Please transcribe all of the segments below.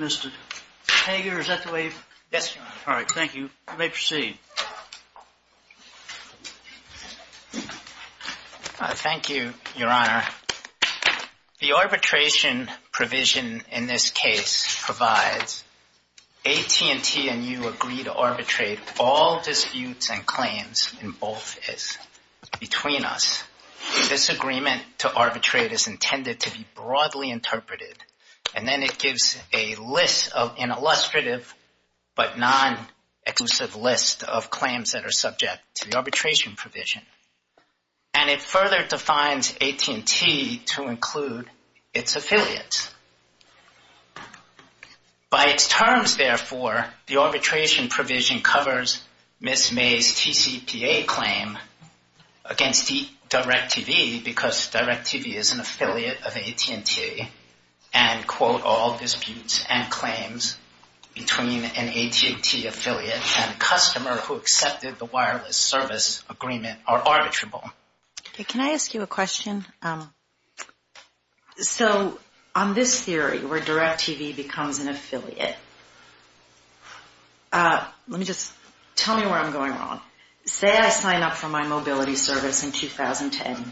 Mr. Hager, is that the way? Yes. All right. Thank you. You may proceed. Thank you, Your Honor. The arbitration provision in this case provides AT&T and you agree to all disputes and claims in both is between us. This agreement to arbitrate is intended to be broadly interpreted and then it gives a list of an illustrative but non-exclusive list of claims that are subject to the arbitration provision. And it further defines AT&T to Ms. May's TCPA claim against DIRECTV because DIRECTV is an affiliate of AT&T and, quote, all disputes and claims between an AT&T affiliate and customer who accepted the wireless service agreement are arbitrable. Okay. Can I ask you a question? So on this theory where DIRECTV becomes an affiliate, let me just tell me where I'm going wrong. Say I sign up for my mobility service in 2010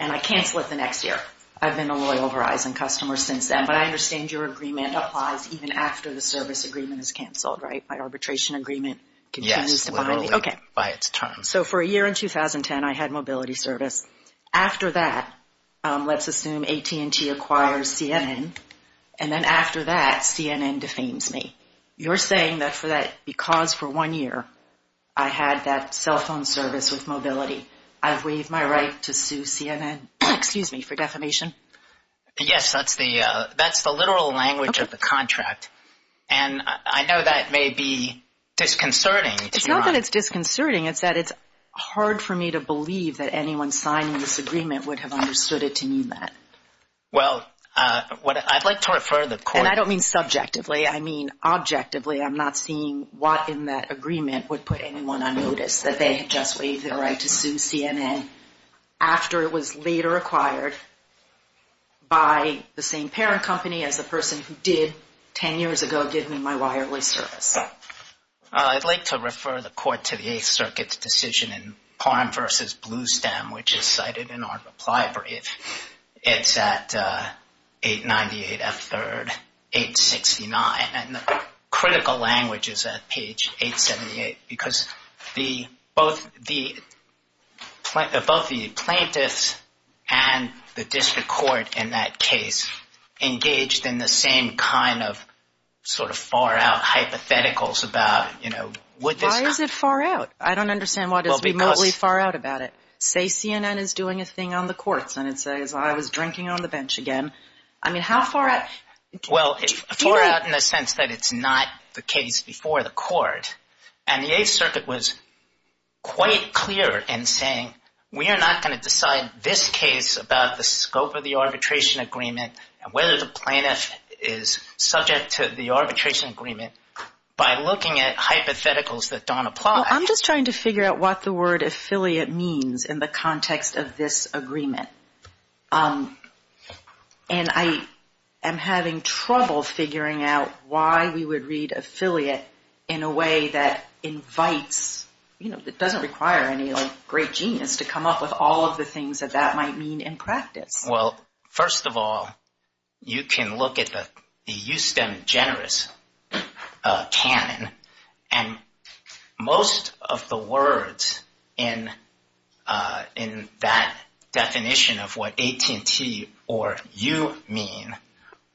and I cancel it the next year. I've been a loyal Verizon customer since then, but I understand your agreement applies even after the service agreement is canceled, right? My arbitration agreement continues to bind me? Yes, literally, by its terms. So for a year in 2010, I had mobility service. After that, let's assume AT&T acquires CNN. And then after that, CNN defames me. You're saying that because for one year I had that cell phone service with mobility, I've waived my right to sue CNN? Excuse me for defamation. Yes, that's the literal language of the contract. And I know that may be disconcerting. It's not that it's disconcerting. It's that it's hard for me to believe that you have understood it to mean that. Well, I'd like to refer the court. And I don't mean subjectively. I mean, objectively, I'm not seeing what in that agreement would put anyone on notice that they just waived their right to sue CNN after it was later acquired by the same parent company as the person who did 10 years ago give me my wireless service. I'd like to refer the court to the Eighth Circuit's decision in Palm v. Bluestem, which is February. It's at 898 F. 3rd, 869. And the critical language is at page 878, because the both the plaintiff, both the plaintiffs and the district court in that case engaged in the same kind of sort of far out hypotheticals about, you know, what is it far out? I don't I was drinking on the bench again. I mean, how far? Well, far out in the sense that it's not the case before the court. And the Eighth Circuit was quite clear in saying we are not going to decide this case about the scope of the arbitration agreement and whether the plaintiff is subject to the arbitration agreement by looking at hypotheticals that don't apply. I'm just trying to figure out what the word affiliate means in the context of this agreement. And I am having trouble figuring out why we would read affiliate in a way that invites, you know, that doesn't require any great genius to come up with all of the things that that might mean in And most of the words in in that definition of what AT&T or you mean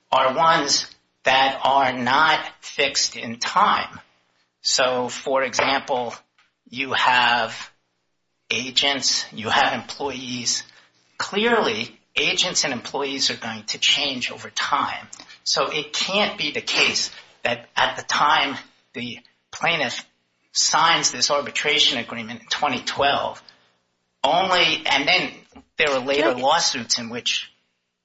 are ones that are not fixed in time. So for example, you have agents, you have employees, clearly, agents and employees are going to change over time. So it can't be the case that at the time the plaintiff signs this arbitration agreement in 2012, only and then there are later lawsuits in which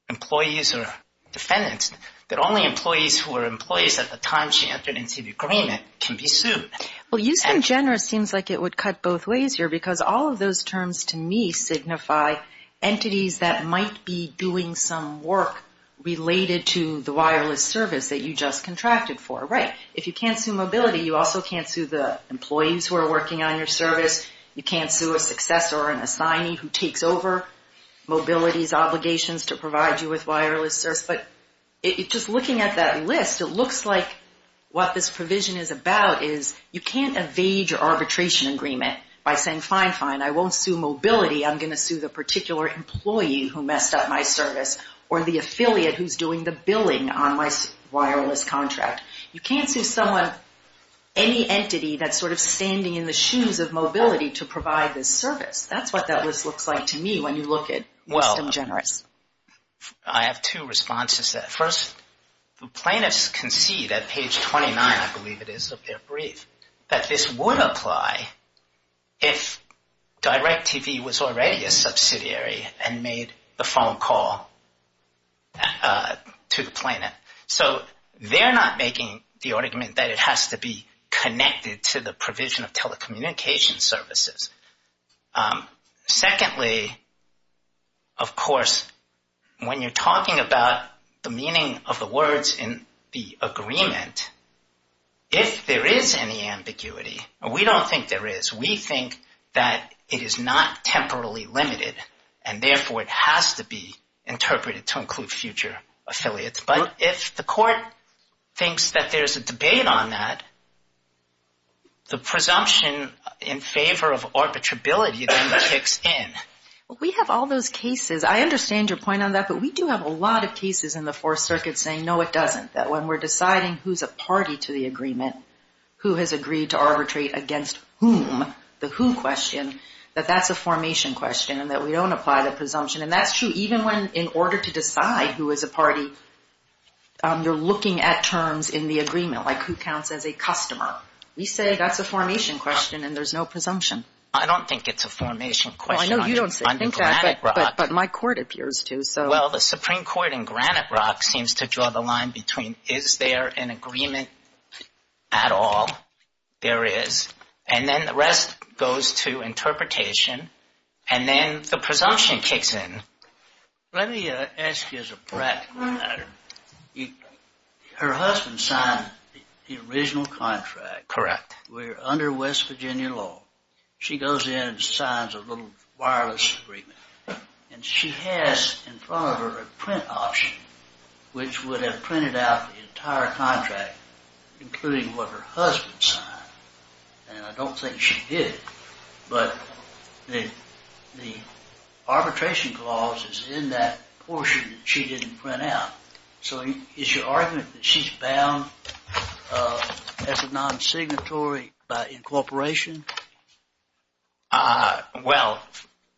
employees are defendants, that only employees who are employees at the time she entered into the agreement can be sued. Well, use them generous seems like it would cut both ways here, because all of those terms, to me signify entities that might be doing some work related to the wireless service that you just contracted for, right? If you can't sue mobility, you also can't sue the employees who are working on your service. You can't sue a successor or an assignee who takes over mobility's obligations to provide you with wireless service. But it just looking at that list, it looks like what this provision is about is you can't evade your arbitration agreement by saying fine, fine, I won't sue mobility, I'm going to sue the particular employee who messed up my service, or the affiliate who's doing the billing on my wireless contract. You can't sue someone, any entity that's sort of standing in the shoes of mobility to provide this service. That's what that list looks like to me when you look at use them generous. I have two responses to that. First, the plaintiffs concede at page 29, I believe it is of their own, that it would apply if DirecTV was already a subsidiary and made the phone call to the plaintiff. So they're not making the argument that it has to be connected to the provision of telecommunication services. Secondly, of course, when you're talking about the meaning of the words in the agreement, if there is any ambiguity, and we don't think there is, we think that it is not temporally limited, and therefore it has to be interpreted to include future affiliates. But if the court thinks that there's a debate on that, the presumption in favor of arbitrability then kicks in. We have all those cases, I understand your point on that, but we do have a lot of cases in the to the agreement who has agreed to arbitrate against whom, the who question, that that's a formation question and that we don't apply the presumption. And that's true even when in order to decide who is a party, you're looking at terms in the agreement, like who counts as a customer. We say that's a formation question and there's no presumption. I don't think it's a formation question. I know you don't think that, but my court appears to. Well, the Supreme Court in Granite Rock seems to draw the line between is there an agreement at all? There is. And then the rest goes to interpretation, and then the presumption kicks in. Let me ask you as a practical matter. Her husband signed the original contract. Correct. We're under West Virginia law. She goes in and signs a little wireless agreement, and she has in front of her a print option, which would have printed out the entire contract, including what her husband signed. And I don't think she did, but the arbitration clause is in that portion that she didn't print out. So is your argument that she's bound as a non-signatory by incorporation? Well,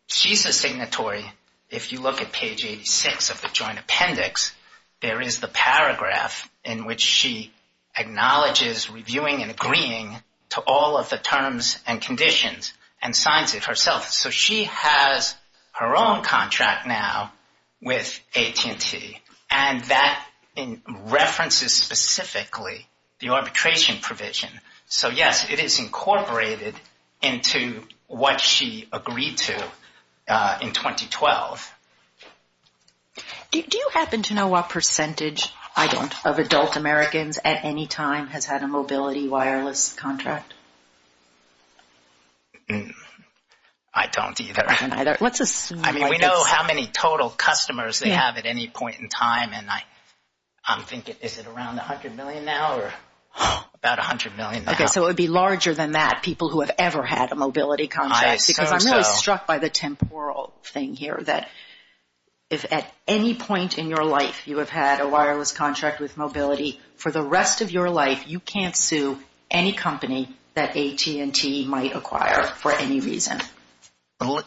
she's a signatory. If you look at page 86 of the joint appendix, there is the paragraph in which she acknowledges reviewing and agreeing to all of the terms and conditions and signs it herself. So she has her own contract now with AT&T, and that references specifically the arbitration provision. So yes, it is incorporated into what she agreed to in 2012. Do you happen to know what percentage, I don't, of adult Americans at any time has had a mobility wireless contract? I don't either. We know how many total customers they have at any point in time, and I'm thinking, is it around 100 million now, or about 100 million now? Okay, so it would be larger than that, people who have ever had a mobility contract, because I'm really struck by the temporal thing here, that if at any point in your life you have had a wireless contract with mobility, for the rest of your life, you can't sue any company that AT&T might acquire for any reason.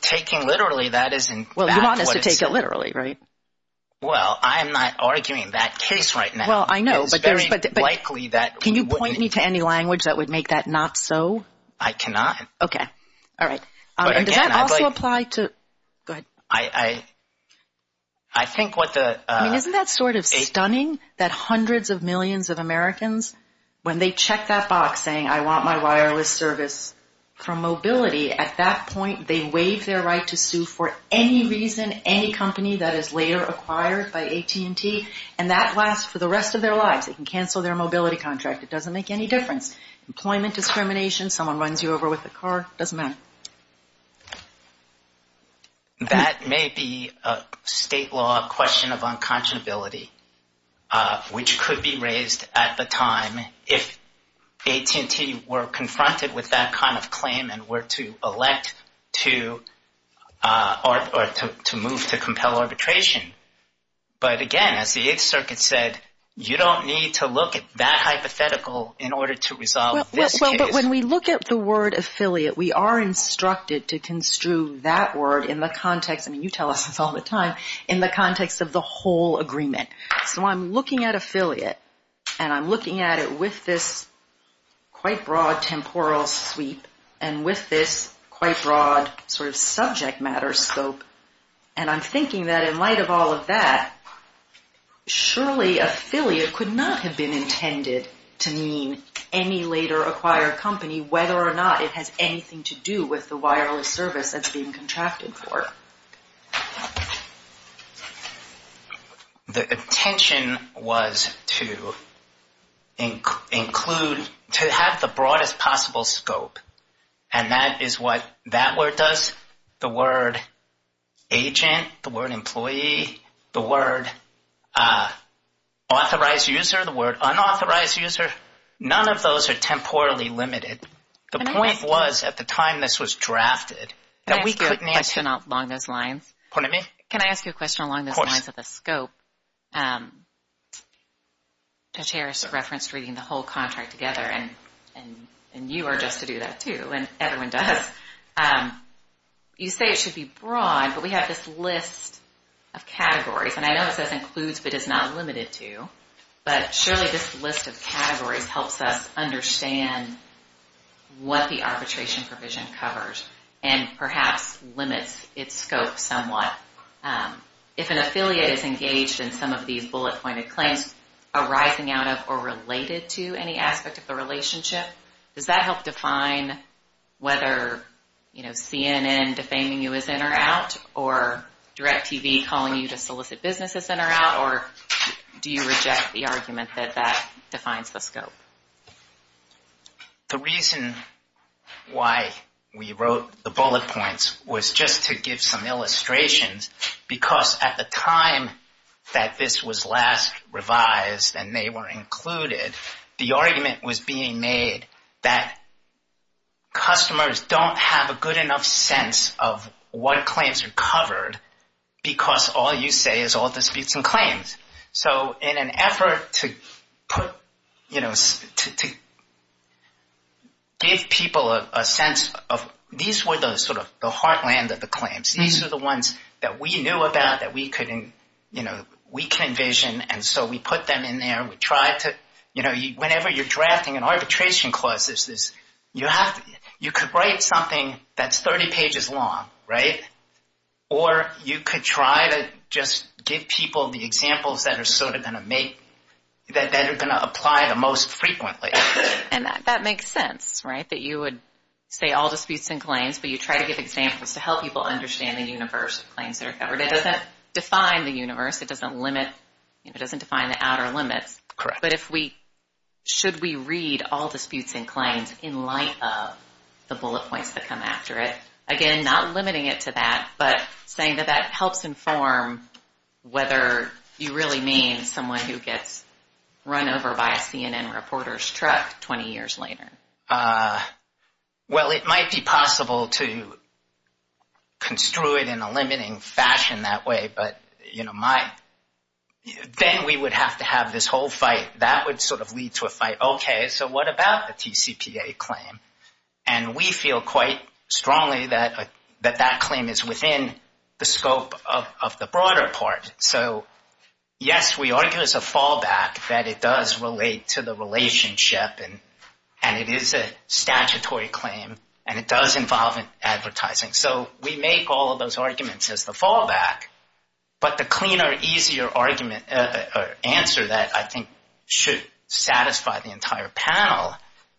Taking literally, that isn't... Well, you want us to take it literally, right? Well, I'm not arguing that case right now. It's very likely that... Can you point me to any language that would make that not so? I cannot. Okay, all right. Does that also apply to... Go ahead. I think what the... Isn't that sort of stunning, that hundreds of millions of Americans, when they check that box saying, I want my wireless service from mobility, at that point, they waive their right to sue for any reason, any company that is later acquired by AT&T, and that lasts for the rest of their lives. They can cancel their mobility contract. It doesn't make any difference. Employment discrimination, someone runs you over with a car, doesn't matter. That may be a state law question of unconscionability, which could be raised at the time if AT&T were confronted with that kind of claim and were to elect to move to compel arbitration. But again, as the Eighth Circuit said, you don't need to look at that hypothetical in order to resolve this case. But when we look at the word affiliate, we are instructed to construe that word in the context, I mean, you tell us this all the time, in the context of the whole agreement. So I'm looking at affiliate, and I'm looking at it with this quite broad temporal sweep, and with this quite broad sort of subject matter scope. And I'm thinking that in light of all of that, surely affiliate could not have been intended to mean any later acquired company, whether or not it has anything to do with the wireless service that's being contracted for. The intention was to include, to have the broadest possible scope. And that is what that word does. The word agent, the word employee, the word authorized user, the word unauthorized user, none of those are temporally limited. The point was, at the time this was drafted, that we couldn't answer- Can I ask you a question along those lines? Pardon me? Can I ask you a question along those lines of the scope? Judge Harris referenced reading the whole contract together, and you are just to do that too, and everyone does. You say it should be broad, but we have this list of categories, and I know it says includes, but it's not limited to. But surely this list of categories helps us understand what the arbitration provision covers and perhaps limits its scope somewhat. If an affiliate is engaged in some of these bullet-pointed claims arising out of or related to any aspect of the relationship, does that help define whether, you know, CNN defaming you as in or out, or DirecTV calling you to solicit businesses in or out, or do you reject the argument that that defines the scope? The reason why we wrote the bullet points was just to give some illustrations, because at the time that this was last revised and they were included, the argument was being made that customers don't have a good enough sense of what claims are covered, because all you say is all disputes and claims. So in an effort to put, you know, give people a sense of, these were the sort of the heartland of the claims. These are the ones that we knew about that we could, you know, we can envision, and so we put them in there. You know, whenever you're drafting an arbitration clause, you could write something that's 30 pages long, right? Or you could try to just give people the examples that are sort of going to make, that are going to apply the most frequently. And that makes sense, right? That you would say all disputes and claims, but you try to give examples to help people understand the universe of claims that are covered. It doesn't define the universe. It doesn't limit, it doesn't define the outer limits. But if we, should we read all disputes and claims in light of the bullet points that come after it? Again, not limiting it to that, but saying that that helps inform whether you really mean someone who gets run over by a CNN reporter's truck 20 years later. Well, it might be possible to construe it in a limiting fashion that way. But, you know, my, then we would have to have this whole fight that would sort of lead to a fight. Okay, so what about the TCPA claim? And we feel quite strongly that that claim is within the scope of the broader part. So yes, we argue as a fallback that it does relate to the relationship and it is a statutory claim and it does involve advertising. So we make all of those arguments as the fallback, but the cleaner, easier argument or answer that I think should satisfy the entire panel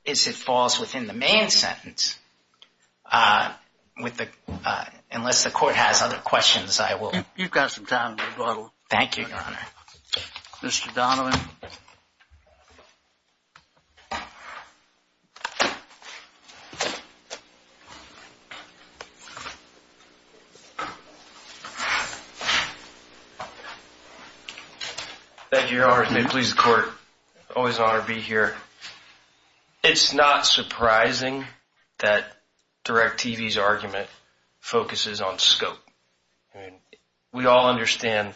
is it falls within the main sentence. Unless the court has other questions, I will. You've got some time. Thank you, Your Honor. Mr. Donovan. Thank you, Your Honor. May it please the court. Always an honor to be here. It's not surprising that DirecTV's argument focuses on scope. I mean, we all understand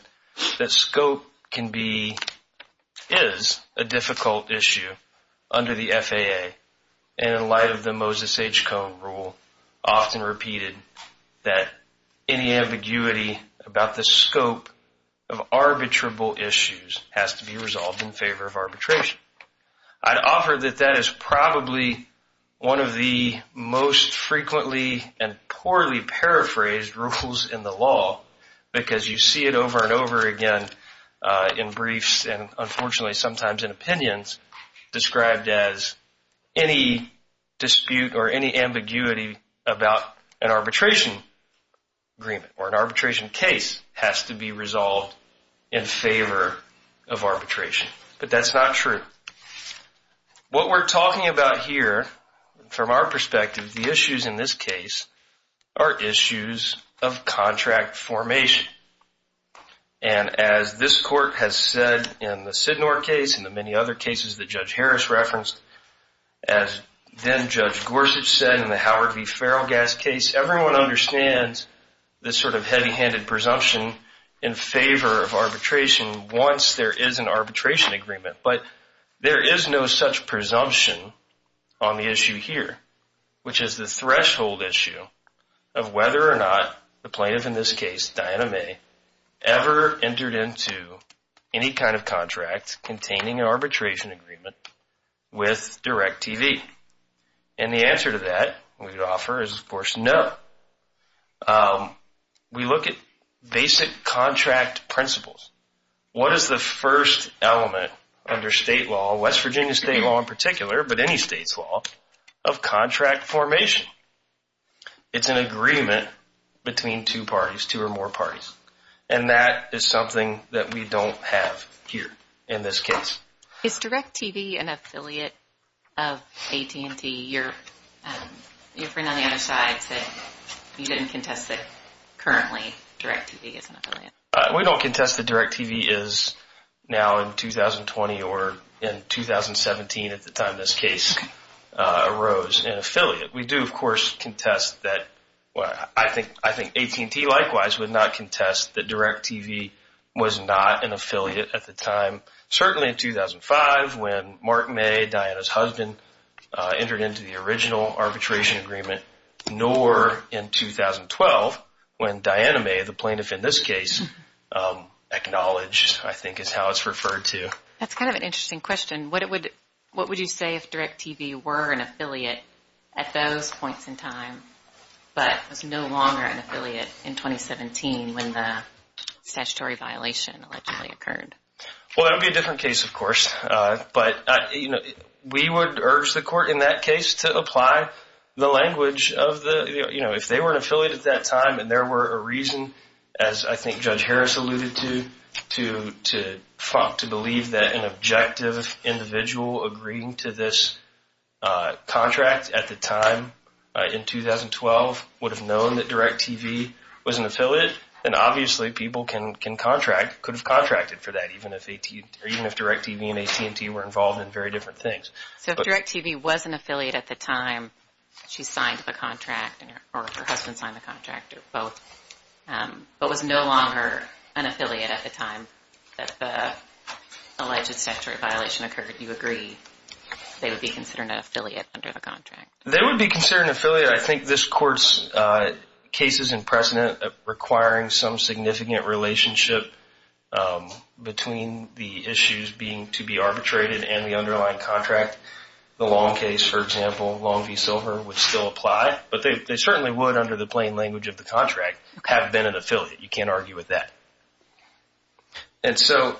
that scope can be, is a difficult issue under the FAA and in light of the Moses H. Cohn rule, often repeated that any ambiguity about the scope of arbitrable issues has to be resolved in favor of arbitration. I'd offer that that is probably one of the most frequently and poorly paraphrased rules in the law because you see it over and over again in briefs and unfortunately sometimes in opinions described as any dispute or any ambiguity about an arbitration agreement has to be resolved in favor of arbitration. But that's not true. What we're talking about here, from our perspective, the issues in this case are issues of contract formation. And as this court has said in the Sidnor case and the many other cases that Judge Harris referenced, as then Judge Gorsuch said in the Howard v. Farrell gas case, everyone understands this sort of heavy-handed presumption in favor of arbitration once there is an arbitration agreement. But there is no such presumption on the issue here, which is the threshold issue of whether or not the plaintiff, in this case, Diana May, ever entered into any kind of contract containing an arbitration agreement with Direct TV. And the answer to that we would offer is, of course, no. We look at basic contract principles. What is the first element under state law, West Virginia state law in particular, but any state's law, of contract formation? It's an agreement between two parties, two or more parties. And that is something that we don't have here in this case. Is Direct TV an affiliate of AT&T, your friend on the other side said you didn't contest that currently Direct TV is an affiliate? We don't contest that Direct TV is now in 2020 or in 2017 at the time this case arose an affiliate. We do, of course, contest that. I think AT&T likewise would not contest that Direct TV was not an affiliate at the time, certainly in 2005, when Mark May, Diana's husband, entered into the original arbitration agreement, nor in 2012, when Diana May, the plaintiff in this case, acknowledged, I think is how it's referred to. That's kind of an interesting question. What would you say if Direct TV were an affiliate at those points in time, but was no longer an affiliate in 2017 when the statutory violation allegedly occurred? Well, that would be a different case, of course. But we would urge the court in that case to apply the language of the, if they were an affiliate at that time and there were a reason, as I think Judge Harris alluded to, to believe that an objective individual agreeing to this contract at the time in 2012 would have known that Direct TV was an affiliate, then obviously people can contract, could have contracted for that, even if Direct TV and AT&T were involved in very different things. So if Direct TV was an affiliate at the time she signed the contract, or her husband signed the contract, or both, but was no longer an affiliate at the time that the alleged statutory violation occurred, you agree they would be considered an affiliate under the contract? They would be considered an affiliate. I think this court's case is in precedent of requiring some significant relationship between the issues being to be arbitrated and the underlying contract. The Long case, for example, Long v. Silver would still apply, but they certainly would under the plain language of the contract have been an affiliate. You can't argue with that. And so,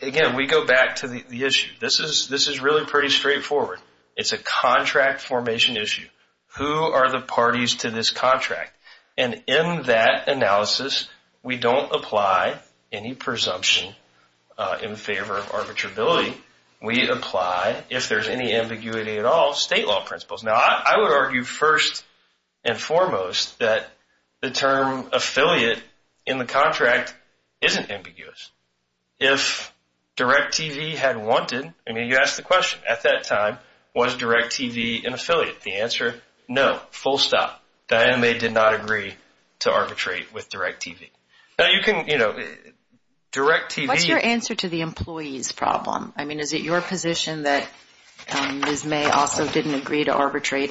again, we go back to the issue. This is really pretty straightforward. It's a contract formation issue. Who are the parties to this contract? And in that analysis, we don't apply any presumption in favor of arbitrability. We apply, if there's any ambiguity at all, state law principles. Now, I would argue first and foremost that the term affiliate in the contract isn't ambiguous. If Direct TV had wanted, I mean, you asked the question at that time, was Direct TV an affiliate? The answer, no, full stop. Diane May did not agree to arbitrate with Direct TV. Now, you can, you know, Direct TV... What's your answer to the employee's problem? I mean, is it your position that Ms. May also didn't agree to arbitrate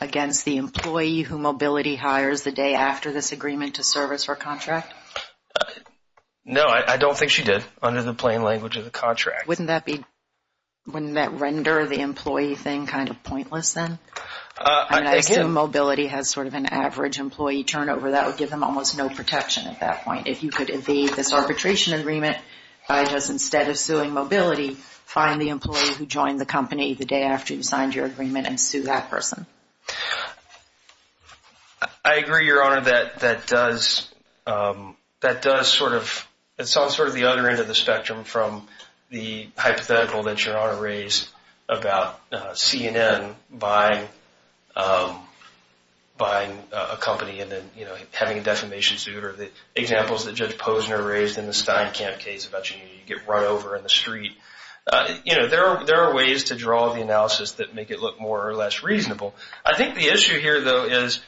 against the employee who Mobility hires the day after this agreement to service her contract? No, I don't think she did under the plain language of the contract. Wouldn't that render the employee thing kind of pointless then? I mean, I assume Mobility has sort of an average employee turnover that would give them almost no protection at that point. If you could evade this arbitration agreement by just instead of suing Mobility, find the employee who joined the company the day after you signed your agreement and sue that person. I agree, Your Honor, that does sort of... It's on sort of the other end of the spectrum from the hypothetical that Your Honor raised about CNN buying a company and then, you know, having a defamation suit or the examples that Judge Posner raised in the Steinkamp case about you get run over in the street. You know, there are ways to draw the analysis that make it look more or less reasonable. I think the issue here, though, is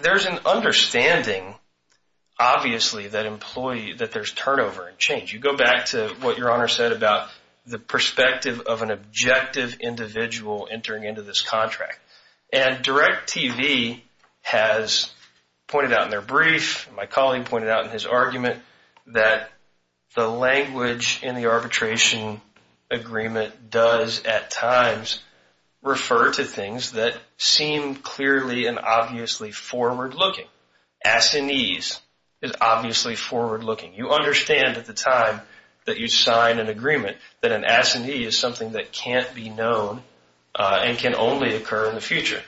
there's an understanding, obviously, that there's turnover and change. You go back to what Your Honor said about the perspective of an objective individual entering into this contract. And DirecTV has pointed out in their brief, my colleague pointed out in his argument, that the language in the arbitration agreement does at times refer to things that seem clearly and obviously forward-looking. Assinease is obviously forward-looking. You understand at the time that you sign an agreement that an assinee is something that can't be known and can only occur in the future.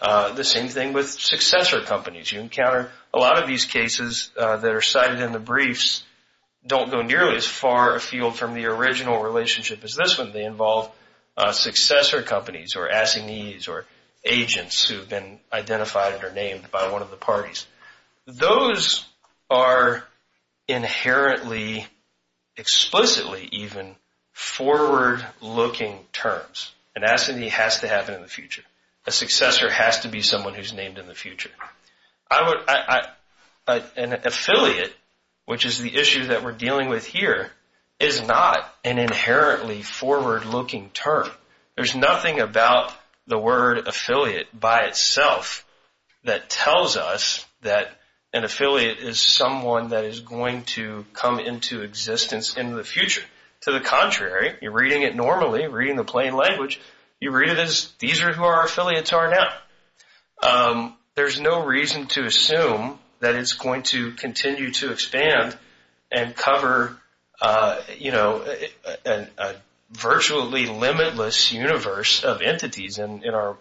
The same thing with successor companies. You encounter a lot of these cases that are cited in the briefs don't go nearly as far afield from the original relationship as this one. They involve successor companies or assinees or agents who've been identified and are named by one of the parties. Those are inherently, explicitly even, forward-looking terms. An assinee has to happen in the future. A successor has to be someone who's named in the future. An affiliate, which is the issue that we're dealing with here, is not an inherently forward-looking term. There's nothing about the word affiliate by itself that tells us that an affiliate is someone that is going to come into existence in the future. To the contrary, you're reading it normally, reading the plain language. You read it as, these are who our affiliates are now. There's no reason to assume that it's going to continue to expand and cover a virtually limitless universe of entities in the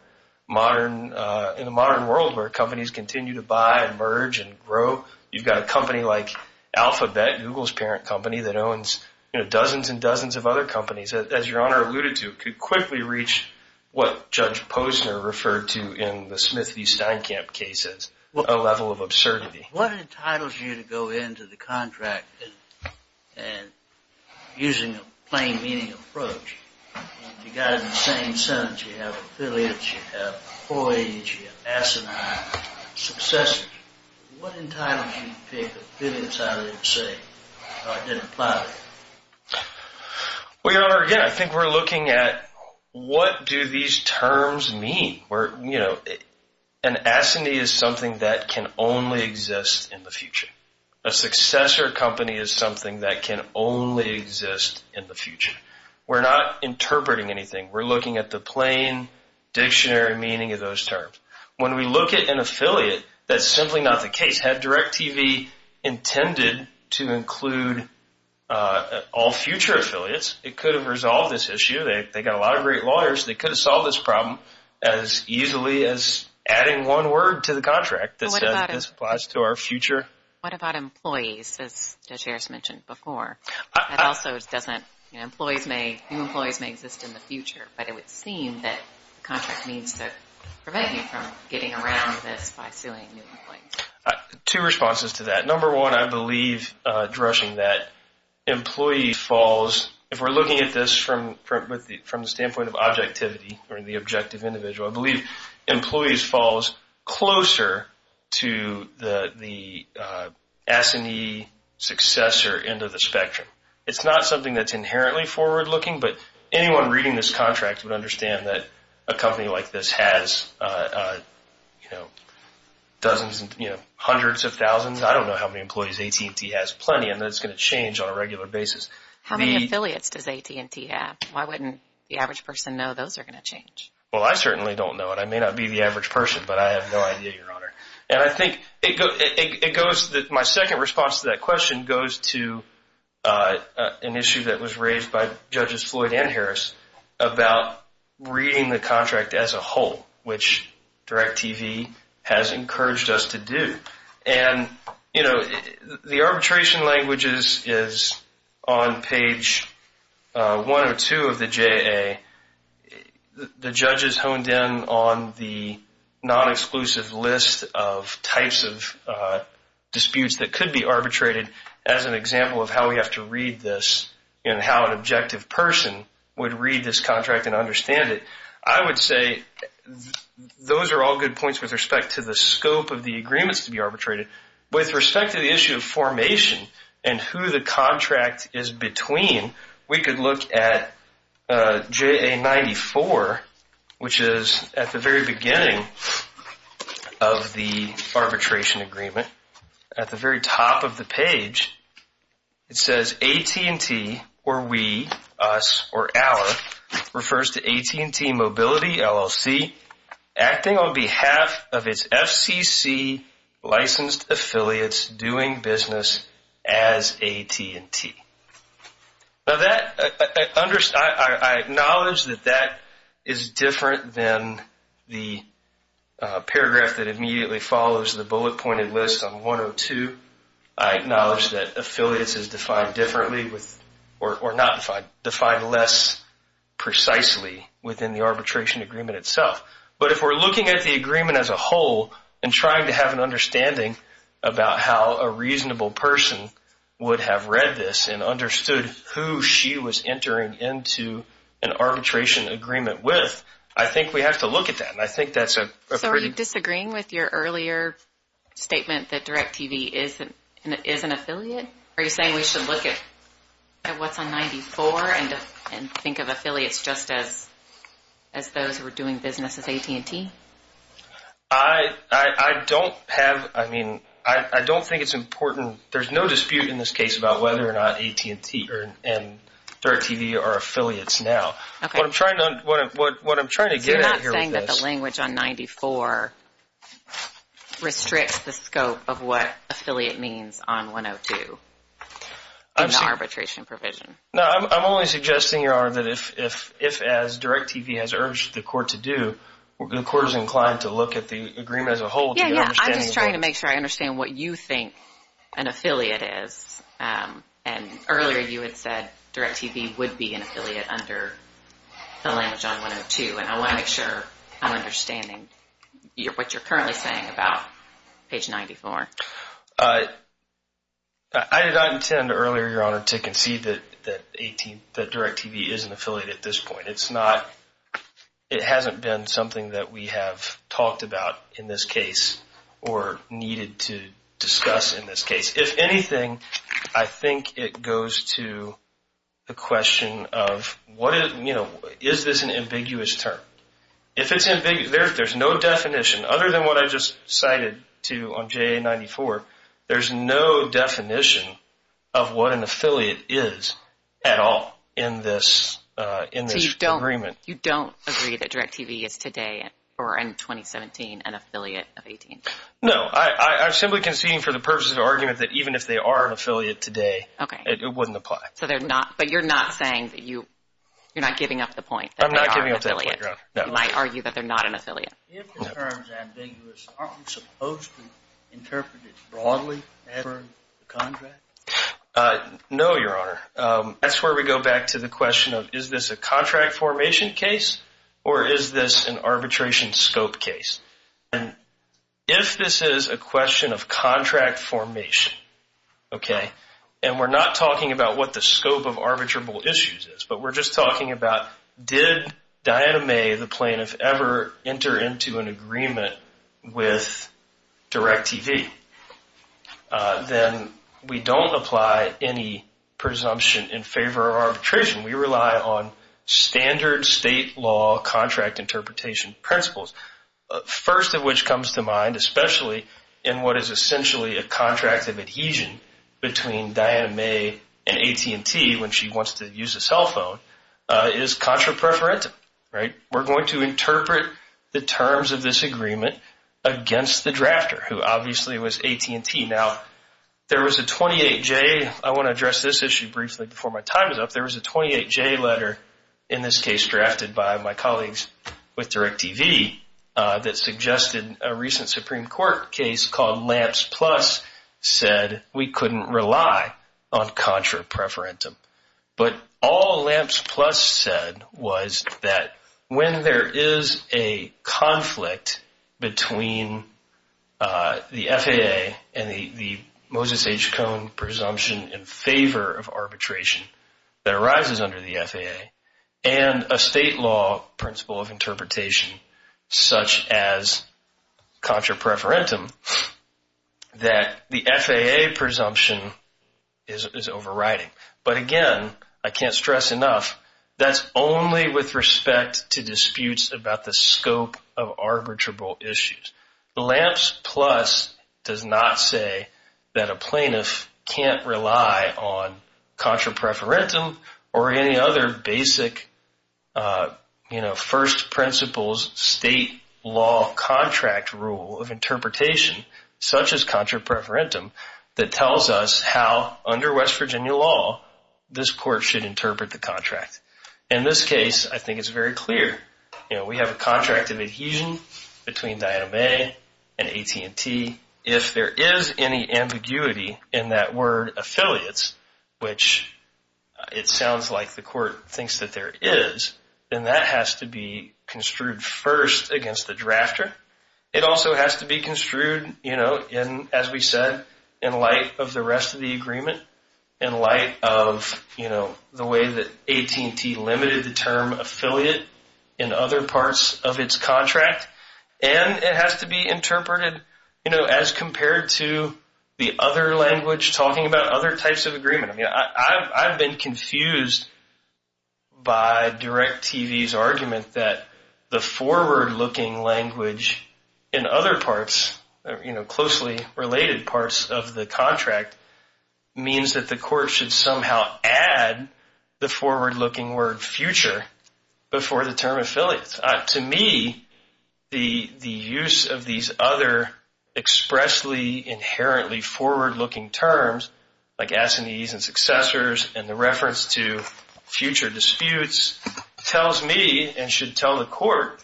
modern world where companies continue to buy and merge and grow. You've got a company like Alphabet, Google's parent company, that owns dozens and dozens of other companies. As Your Honor alluded to, it could quickly reach what Judge Posner referred to in the Smith v. Steinkamp cases, a level of absurdity. What entitles you to go into the contract and using a plain meaning approach? If you got it in the same sentence, you have affiliates, you have employees, you have asinine, successors. What entitles you to pick affiliates out of the same, or identify them? Well, Your Honor, again, I think we're looking at what do these terms mean? An asinine is something that can only exist in the future. A successor company is something that can only exist in the future. We're not interpreting anything. We're looking at the plain dictionary meaning of those terms. When we look at an affiliate, that's simply not the case. Had DirecTV intended to include all future affiliates, it could have resolved this issue. They've got a lot of great lawyers. They could have solved this problem as easily as adding one word to the contract that says this applies to our future. What about employees, as Judge Harris mentioned before? That also doesn't... New employees may exist in the future, but it would seem that the contract means to prevent you from getting around this by suing new employees. Two responses to that. Number one, I believe addressing that employee falls... If we're looking at this from the standpoint of objectivity or the objective individual, I believe employees falls closer to the asinine successor end of the spectrum. It's not something that's inherently forward-looking, but anyone reading this contract would understand that a company like this has dozens and hundreds of thousands. I don't know how many employees AT&T has plenty, and that's going to change on a regular basis. How many affiliates does AT&T have? Why wouldn't the average person know those are going to change? Well, I certainly don't know it. I may not be the average person, but I have no idea, Your Honor. And I think it goes... My second response to that question goes to an issue that was raised by Judges Floyd and Harris about reading the contract as a whole, which DIRECTV has encouraged us to do. And the arbitration languages is on page 102 of the JAA. The judges honed in on the non-exclusive list of types of disputes that could be arbitrated, as an example of how we have to read this and how an objective person would read this contract and understand it. I would say those are all good points with respect to the scope of the agreements to be arbitrated. With respect to the issue of formation and who the contract is between, we could look at JAA 94, which is at the very beginning of the arbitration agreement, at the very top of the page, it says AT&T, or we, us, or our, refers to AT&T Mobility LLC acting on behalf of its FCC licensed affiliates doing business as AT&T. Now, I acknowledge that that is different than the paragraph that immediately follows the bullet-pointed list on 102. I acknowledge that affiliates is defined differently, or not defined, defined less precisely within the arbitration agreement itself. But if we're looking at the agreement as a whole and trying to have an understanding about how a reasonable person would have read this and understood who she was entering into an arbitration agreement with, I think we have to look at that. And I think that's a pretty- Statement that DirecTV is an affiliate? Are you saying we should look at what's on 94 and think of affiliates just as those who are doing business as AT&T? I don't have, I mean, I don't think it's important. There's no dispute in this case about whether or not AT&T or DirecTV are affiliates now. What I'm trying to get at here with this- You're not saying that the language on 94 restricts the scope of what affiliate means on 102 in the arbitration provision? No, I'm only suggesting, Your Honor, that if, as DirecTV has urged the court to do, the court is inclined to look at the agreement as a whole to get an understanding- Yeah, yeah, I'm just trying to make sure I understand what you think an affiliate is. And earlier you had said DirecTV would be an affiliate under the language on 102. And I want to make sure I'm understanding what you're currently saying about page 94. I did not intend earlier, Your Honor, to concede that DirecTV is an affiliate at this point. It hasn't been something that we have talked about in this case or needed to discuss in this case. If anything, I think it goes to the question of, is this an ambiguous term? If it's ambiguous, there's no definition other than what I just cited to on JA94. There's no definition of what an affiliate is at all in this agreement. You don't agree that DirecTV is today or in 2017 an affiliate of 18? No, I'm simply conceding for the purposes of argument that even if they are an affiliate today, it wouldn't apply. So they're not, but you're not saying that you, you're not giving up the point I'm not giving up that point, Your Honor. You might argue that they're not an affiliate. If the term is ambiguous, aren't we supposed to interpret it broadly as a contract? No, Your Honor. That's where we go back to the question of, is this a contract formation case or is this an arbitration scope case? And if this is a question of contract formation, okay, and we're not talking about what the scope of arbitrable issues is, but we're just talking about did Diana May, the plaintiff, ever enter into an agreement with DirecTV? Then we don't apply any presumption in favor of arbitration. We rely on standard state law contract interpretation principles. First of which comes to mind, especially in what is essentially a contract of adhesion between Diana May and AT&T when she wants to use a cell phone, is contra preferentum, right? We're going to interpret the terms of this agreement against the drafter, who obviously was AT&T. Now, there was a 28-J, I want to address this issue briefly before my time is up. There was a 28-J letter, in this case drafted by my colleagues with DirecTV, that suggested a recent Supreme Court case called Lamps Plus said we couldn't rely on contra preferentum. But all Lamps Plus said was that when there is a conflict between the FAA and the Moses H. Cohn presumption in favor of arbitration that arises under the FAA and a state law principle of interpretation such as contra preferentum, that the FAA presumption is overriding. But again, I can't stress enough, that's only with respect to disputes about the scope of arbitrable issues. The Lamps Plus does not say that a plaintiff can't rely on contra preferentum or any other basic first principles state law contract rule of interpretation such as contra preferentum that tells us how under West Virginia law this court should interpret the contract. In this case, I think it's very clear, you know, we have a contract of adhesion between Diana Mae and AT&T. If there is any ambiguity in that word affiliates, which it sounds like the court thinks that there is, then that has to be construed first against the drafter. It also has to be construed, you know, as we said, in light of the rest of the agreement, in light of, you know, the way that AT&T limited the term affiliate in other parts of its contract. And it has to be interpreted, you know, as compared to the other language talking about other types of agreement. I mean, I've been confused by DirecTV's argument that the forward-looking language in other parts, you know, closely related parts, of the contract means that the court should somehow add the forward-looking word future before the term affiliates. To me, the use of these other expressly, inherently forward-looking terms like S&Es and successors and the reference to future disputes tells me and should tell the court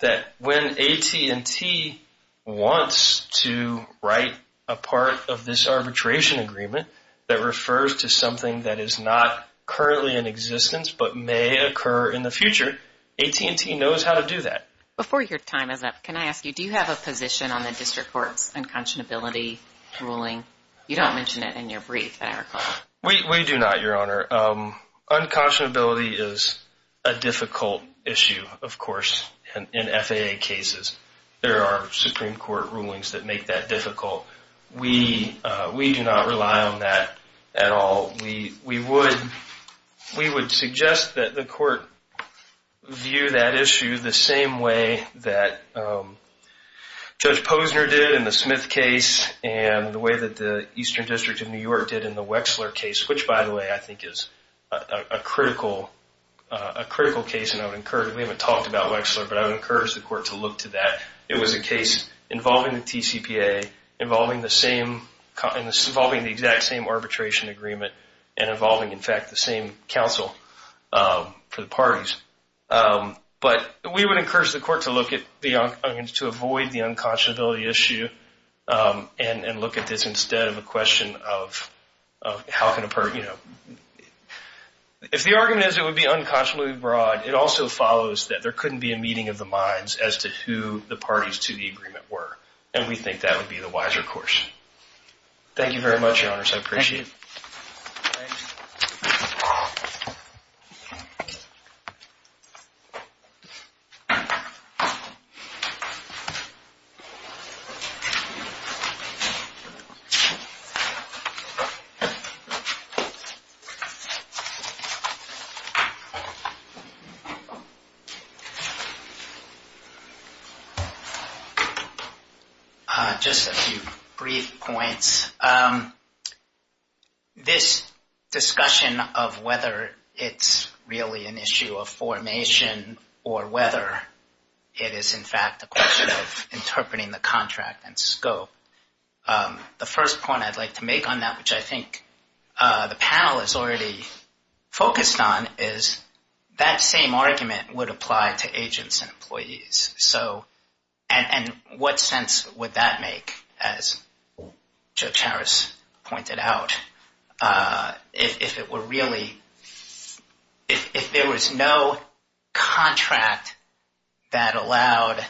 that when AT&T wants to write a part of this arbitration agreement that refers to something that is not currently in existence but may occur in the future, AT&T knows how to do that. Before your time is up, can I ask you, do you have a position on the district court's unconscionability ruling? You don't mention it in your brief, I recall. We do not, Your Honor. Unconscionability is a difficult issue, of course, in FAA cases. There are Supreme Court rulings that make that difficult. We do not rely on that at all. We would suggest that the court view that issue the same way that Judge Posner did in the Smith case and the way that the Eastern District of New York did in the Wexler case, which, by the way, I think is a critical case. We haven't talked about Wexler, but I would encourage the court to look to that. It was a case involving the TCPA, involving the same, involving the exact same arbitration agreement and involving, in fact, the same counsel for the parties. But we would encourage the court to look at the unconscionability, to avoid the unconscionability issue and look at this instead of a question of if the argument is it would be unconscionably broad, it also follows that there couldn't be a meeting of the minds as to who the parties to the agreement were. And we think that would be the wiser course. Thank you very much, Your Honors. I appreciate it. Just a few brief points. This discussion of whether it's really an issue of formation or whether it is, in fact, a question of interpreting the contract and scope. The first point I'd like to make on that, which I think the panel is already focused on, is that same argument would apply to agents and employees. So, and what sense would that make, as Judge Harris pointed out, if there was no contract that allowed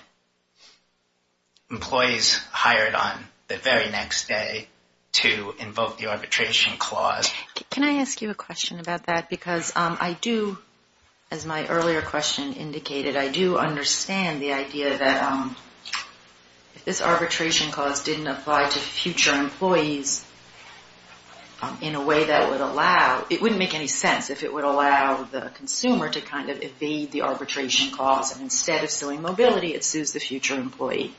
employees hired on the very next day to invoke the arbitration clause? Can I ask you a question about that? Because I do, as my earlier question indicated, I do understand the idea that if this arbitration clause didn't apply to future employees in a way that would allow, it wouldn't make any sense if it would allow the consumer to kind of evade the arbitration clause. And instead of suing mobility, it sues the future employee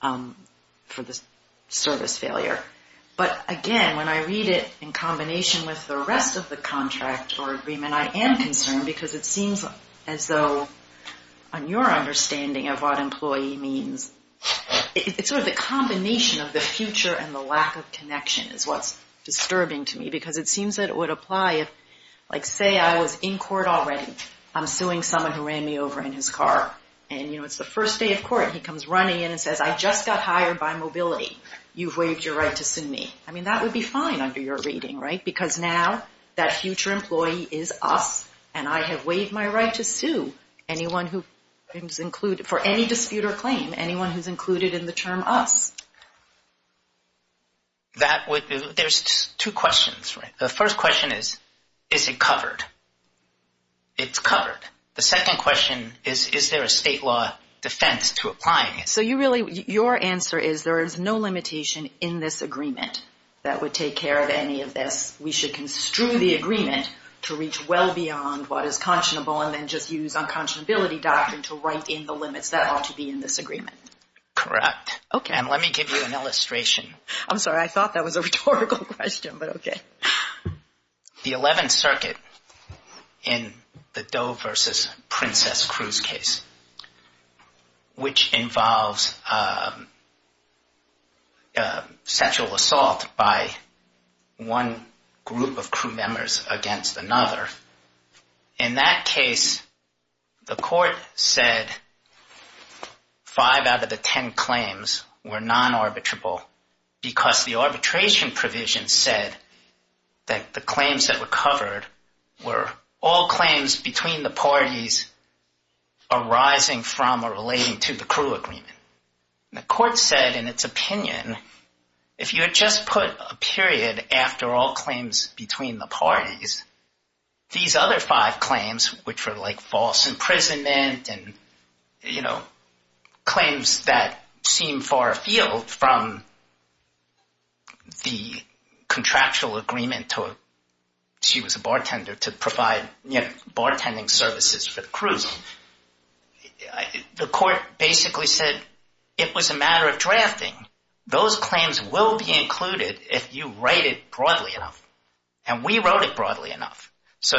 for the service failure. But again, when I read it in combination with the rest of the contract or agreement, I am concerned because it seems as though on your understanding of what employee means, it's sort of the combination of the future and the lack of connection is what's disturbing to me because it seems that it would apply if like, say I was in court already, I'm suing someone who ran me over in his car. And you know, it's the first day of court, he comes running in and says, I just got hired by mobility. You've waived your right to sue me. I mean, that would be fine under your reading, right? Because now that future employee is us and I have waived my right to sue anyone who is included for any dispute or claim, anyone who's included in the term us. That would, there's two questions, right? The first question is, is it covered? It's covered. The second question is, is there a state law defense to applying it? So you really, your answer is there is no limitation in this agreement that would take care of any of this. We should construe the agreement to reach well beyond what is conscionable and then just use unconscionability doctrine to write in the limits that ought to be in this agreement. Correct. Okay. And let me give you an illustration. I'm sorry. I thought that was a rhetorical question, but okay. The 11th Circuit in the Doe versus Princess Cruz case, which involves sexual assault by one group of crew members against another. In that case, the court said five out of the 10 claims were non-arbitrable because the arbitration provision said that the claims that were covered were all claims between the parties arising from or relating to the crew agreement. The court said in its opinion, if you had just put a period after all claims between the parties, these other five claims, which were like false imprisonment and claims that seem far afield from the contractual agreement she was a bartender to provide bartending services for the crews. The court basically said it was a matter of drafting. Those claims will be included if you write it broadly enough. We wrote it broadly enough.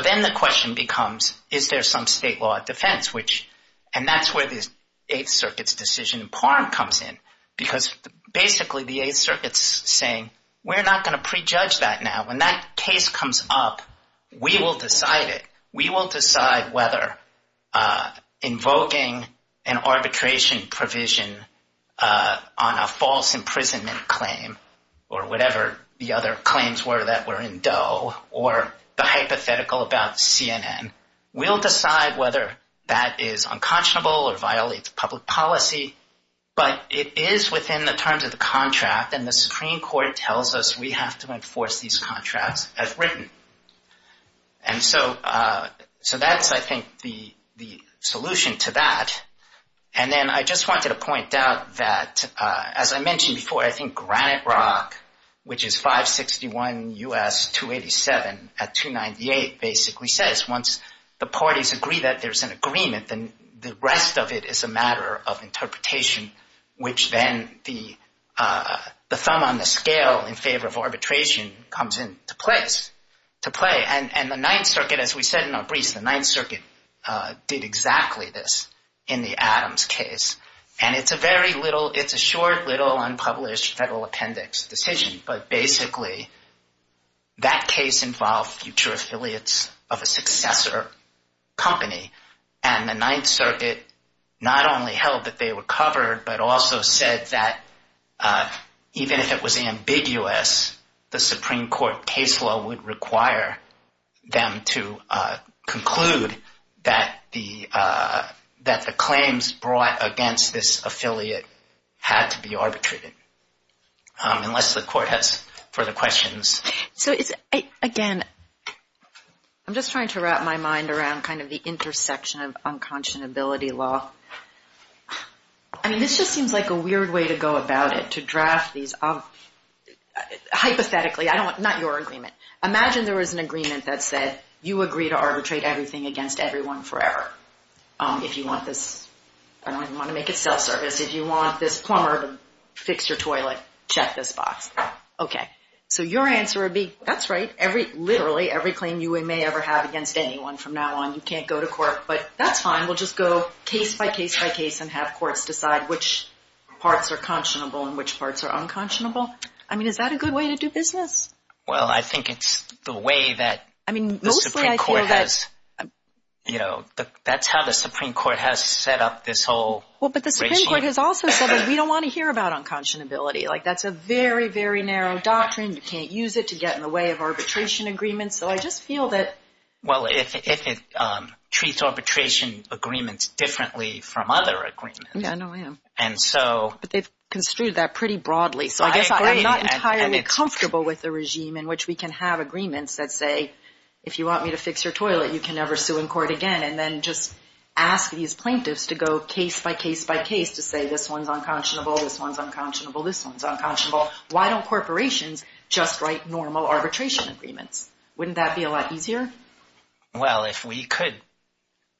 Then the question becomes, is there some state law of defense? That's where the 8th Circuit's decision in Parham comes in because basically the 8th Circuit's saying, we're not going to prejudge that now. When that case comes up, we will decide it. We will decide whether invoking an arbitration provision on a false imprisonment claim or whatever the other claims were that were in Doe or the hypothetical about CNN. We'll decide whether that is unconscionable or violates public policy, but it is within the terms of the contract and the Supreme Court tells us we have to enforce these contracts as written. That's, I think, the solution to that. I just wanted to point out that, as I mentioned before, Granite Rock, which is 561 U.S. 287 at 298, basically says, once the parties agree that there's an agreement, then the rest of it is a matter of interpretation, which then the thumb on the scale in favor of arbitration comes into play. And the 9th Circuit, as we said in our briefs, the 9th Circuit did exactly this in the Adams case. And it's a very little, it's a short little unpublished federal appendix decision, but basically that case involved future affiliates of a successor company. And the 9th Circuit not only held that they were covered, but also said that even if it was ambiguous, the Supreme Court case law would require them to conclude that the claims brought against this affiliate had to be arbitrated, unless the court has further questions. So it's, again, I'm just trying to wrap my mind around kind of the intersection of unconscionability law. I mean, this just seems like a weird way to go about it, to draft these, hypothetically, I don't want, not your agreement. Imagine there was an agreement that said, you agree to arbitrate everything against everyone forever if you want this, I don't even want to make it self-service, if you want this plumber to fix your toilet, check this box. Okay, so your answer would be, that's right. Every, literally every claim you may ever have against anyone from now on, you can't go to court, but that's fine. We'll just go case by case by case and have courts decide which parts are conscionable and which parts are unconscionable. I mean, is that a good way to do business? Well, I think it's the way that, I mean, mostly I feel that, you know, that's how the Supreme Court has set up this whole... Well, but the Supreme Court has also said that we don't want to hear about unconscionability. Like, that's a very, very narrow doctrine. You can't use it to get in the way of arbitration agreements. So I just feel that... Well, if it treats arbitration agreements differently from other agreements, and so... But they've construed that pretty broadly. So I guess I'm not entirely comfortable with a regime in which we can have agreements that say, if you want me to fix your toilet, you can never sue in court again. And then just ask these plaintiffs to go case by case by case to say, this one's unconscionable, this one's unconscionable, this one's unconscionable. Why don't corporations just write normal arbitration agreements? Wouldn't that be a lot easier? Well, if we could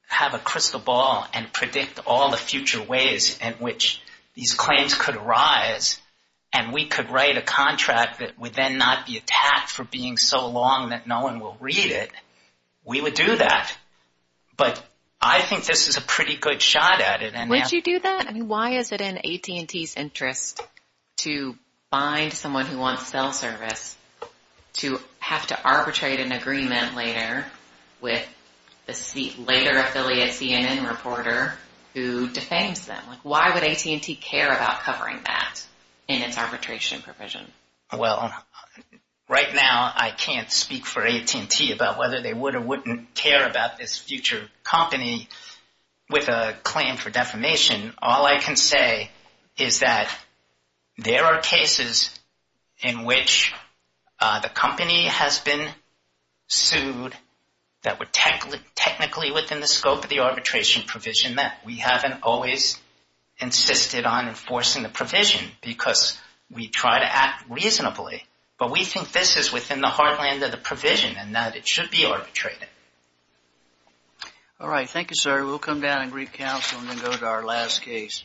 have a crystal ball and predict all the future ways in which these claims could arise, and we could write a contract that would then not be attacked for being so long that no one will read it, we would do that. But I think this is a pretty good shot at it. Would you do that? I mean, why is it in AT&T's interest to bind someone who wants cell service to have to arbitrate an agreement later with the later affiliate CNN reporter who defames them? Why would AT&T care about covering that in its arbitration provision? about whether they would or wouldn't care about this future company with a claim for defamation. All I can say is that there are cases in which the company has been sued that were technically within the scope of the arbitration provision that we haven't always insisted on enforcing the provision because we try to act reasonably. But we think this is within the heartland of the provision and that it should be arbitrated. All right. Thank you, sir. We'll come down and recounsel and then go to our last case.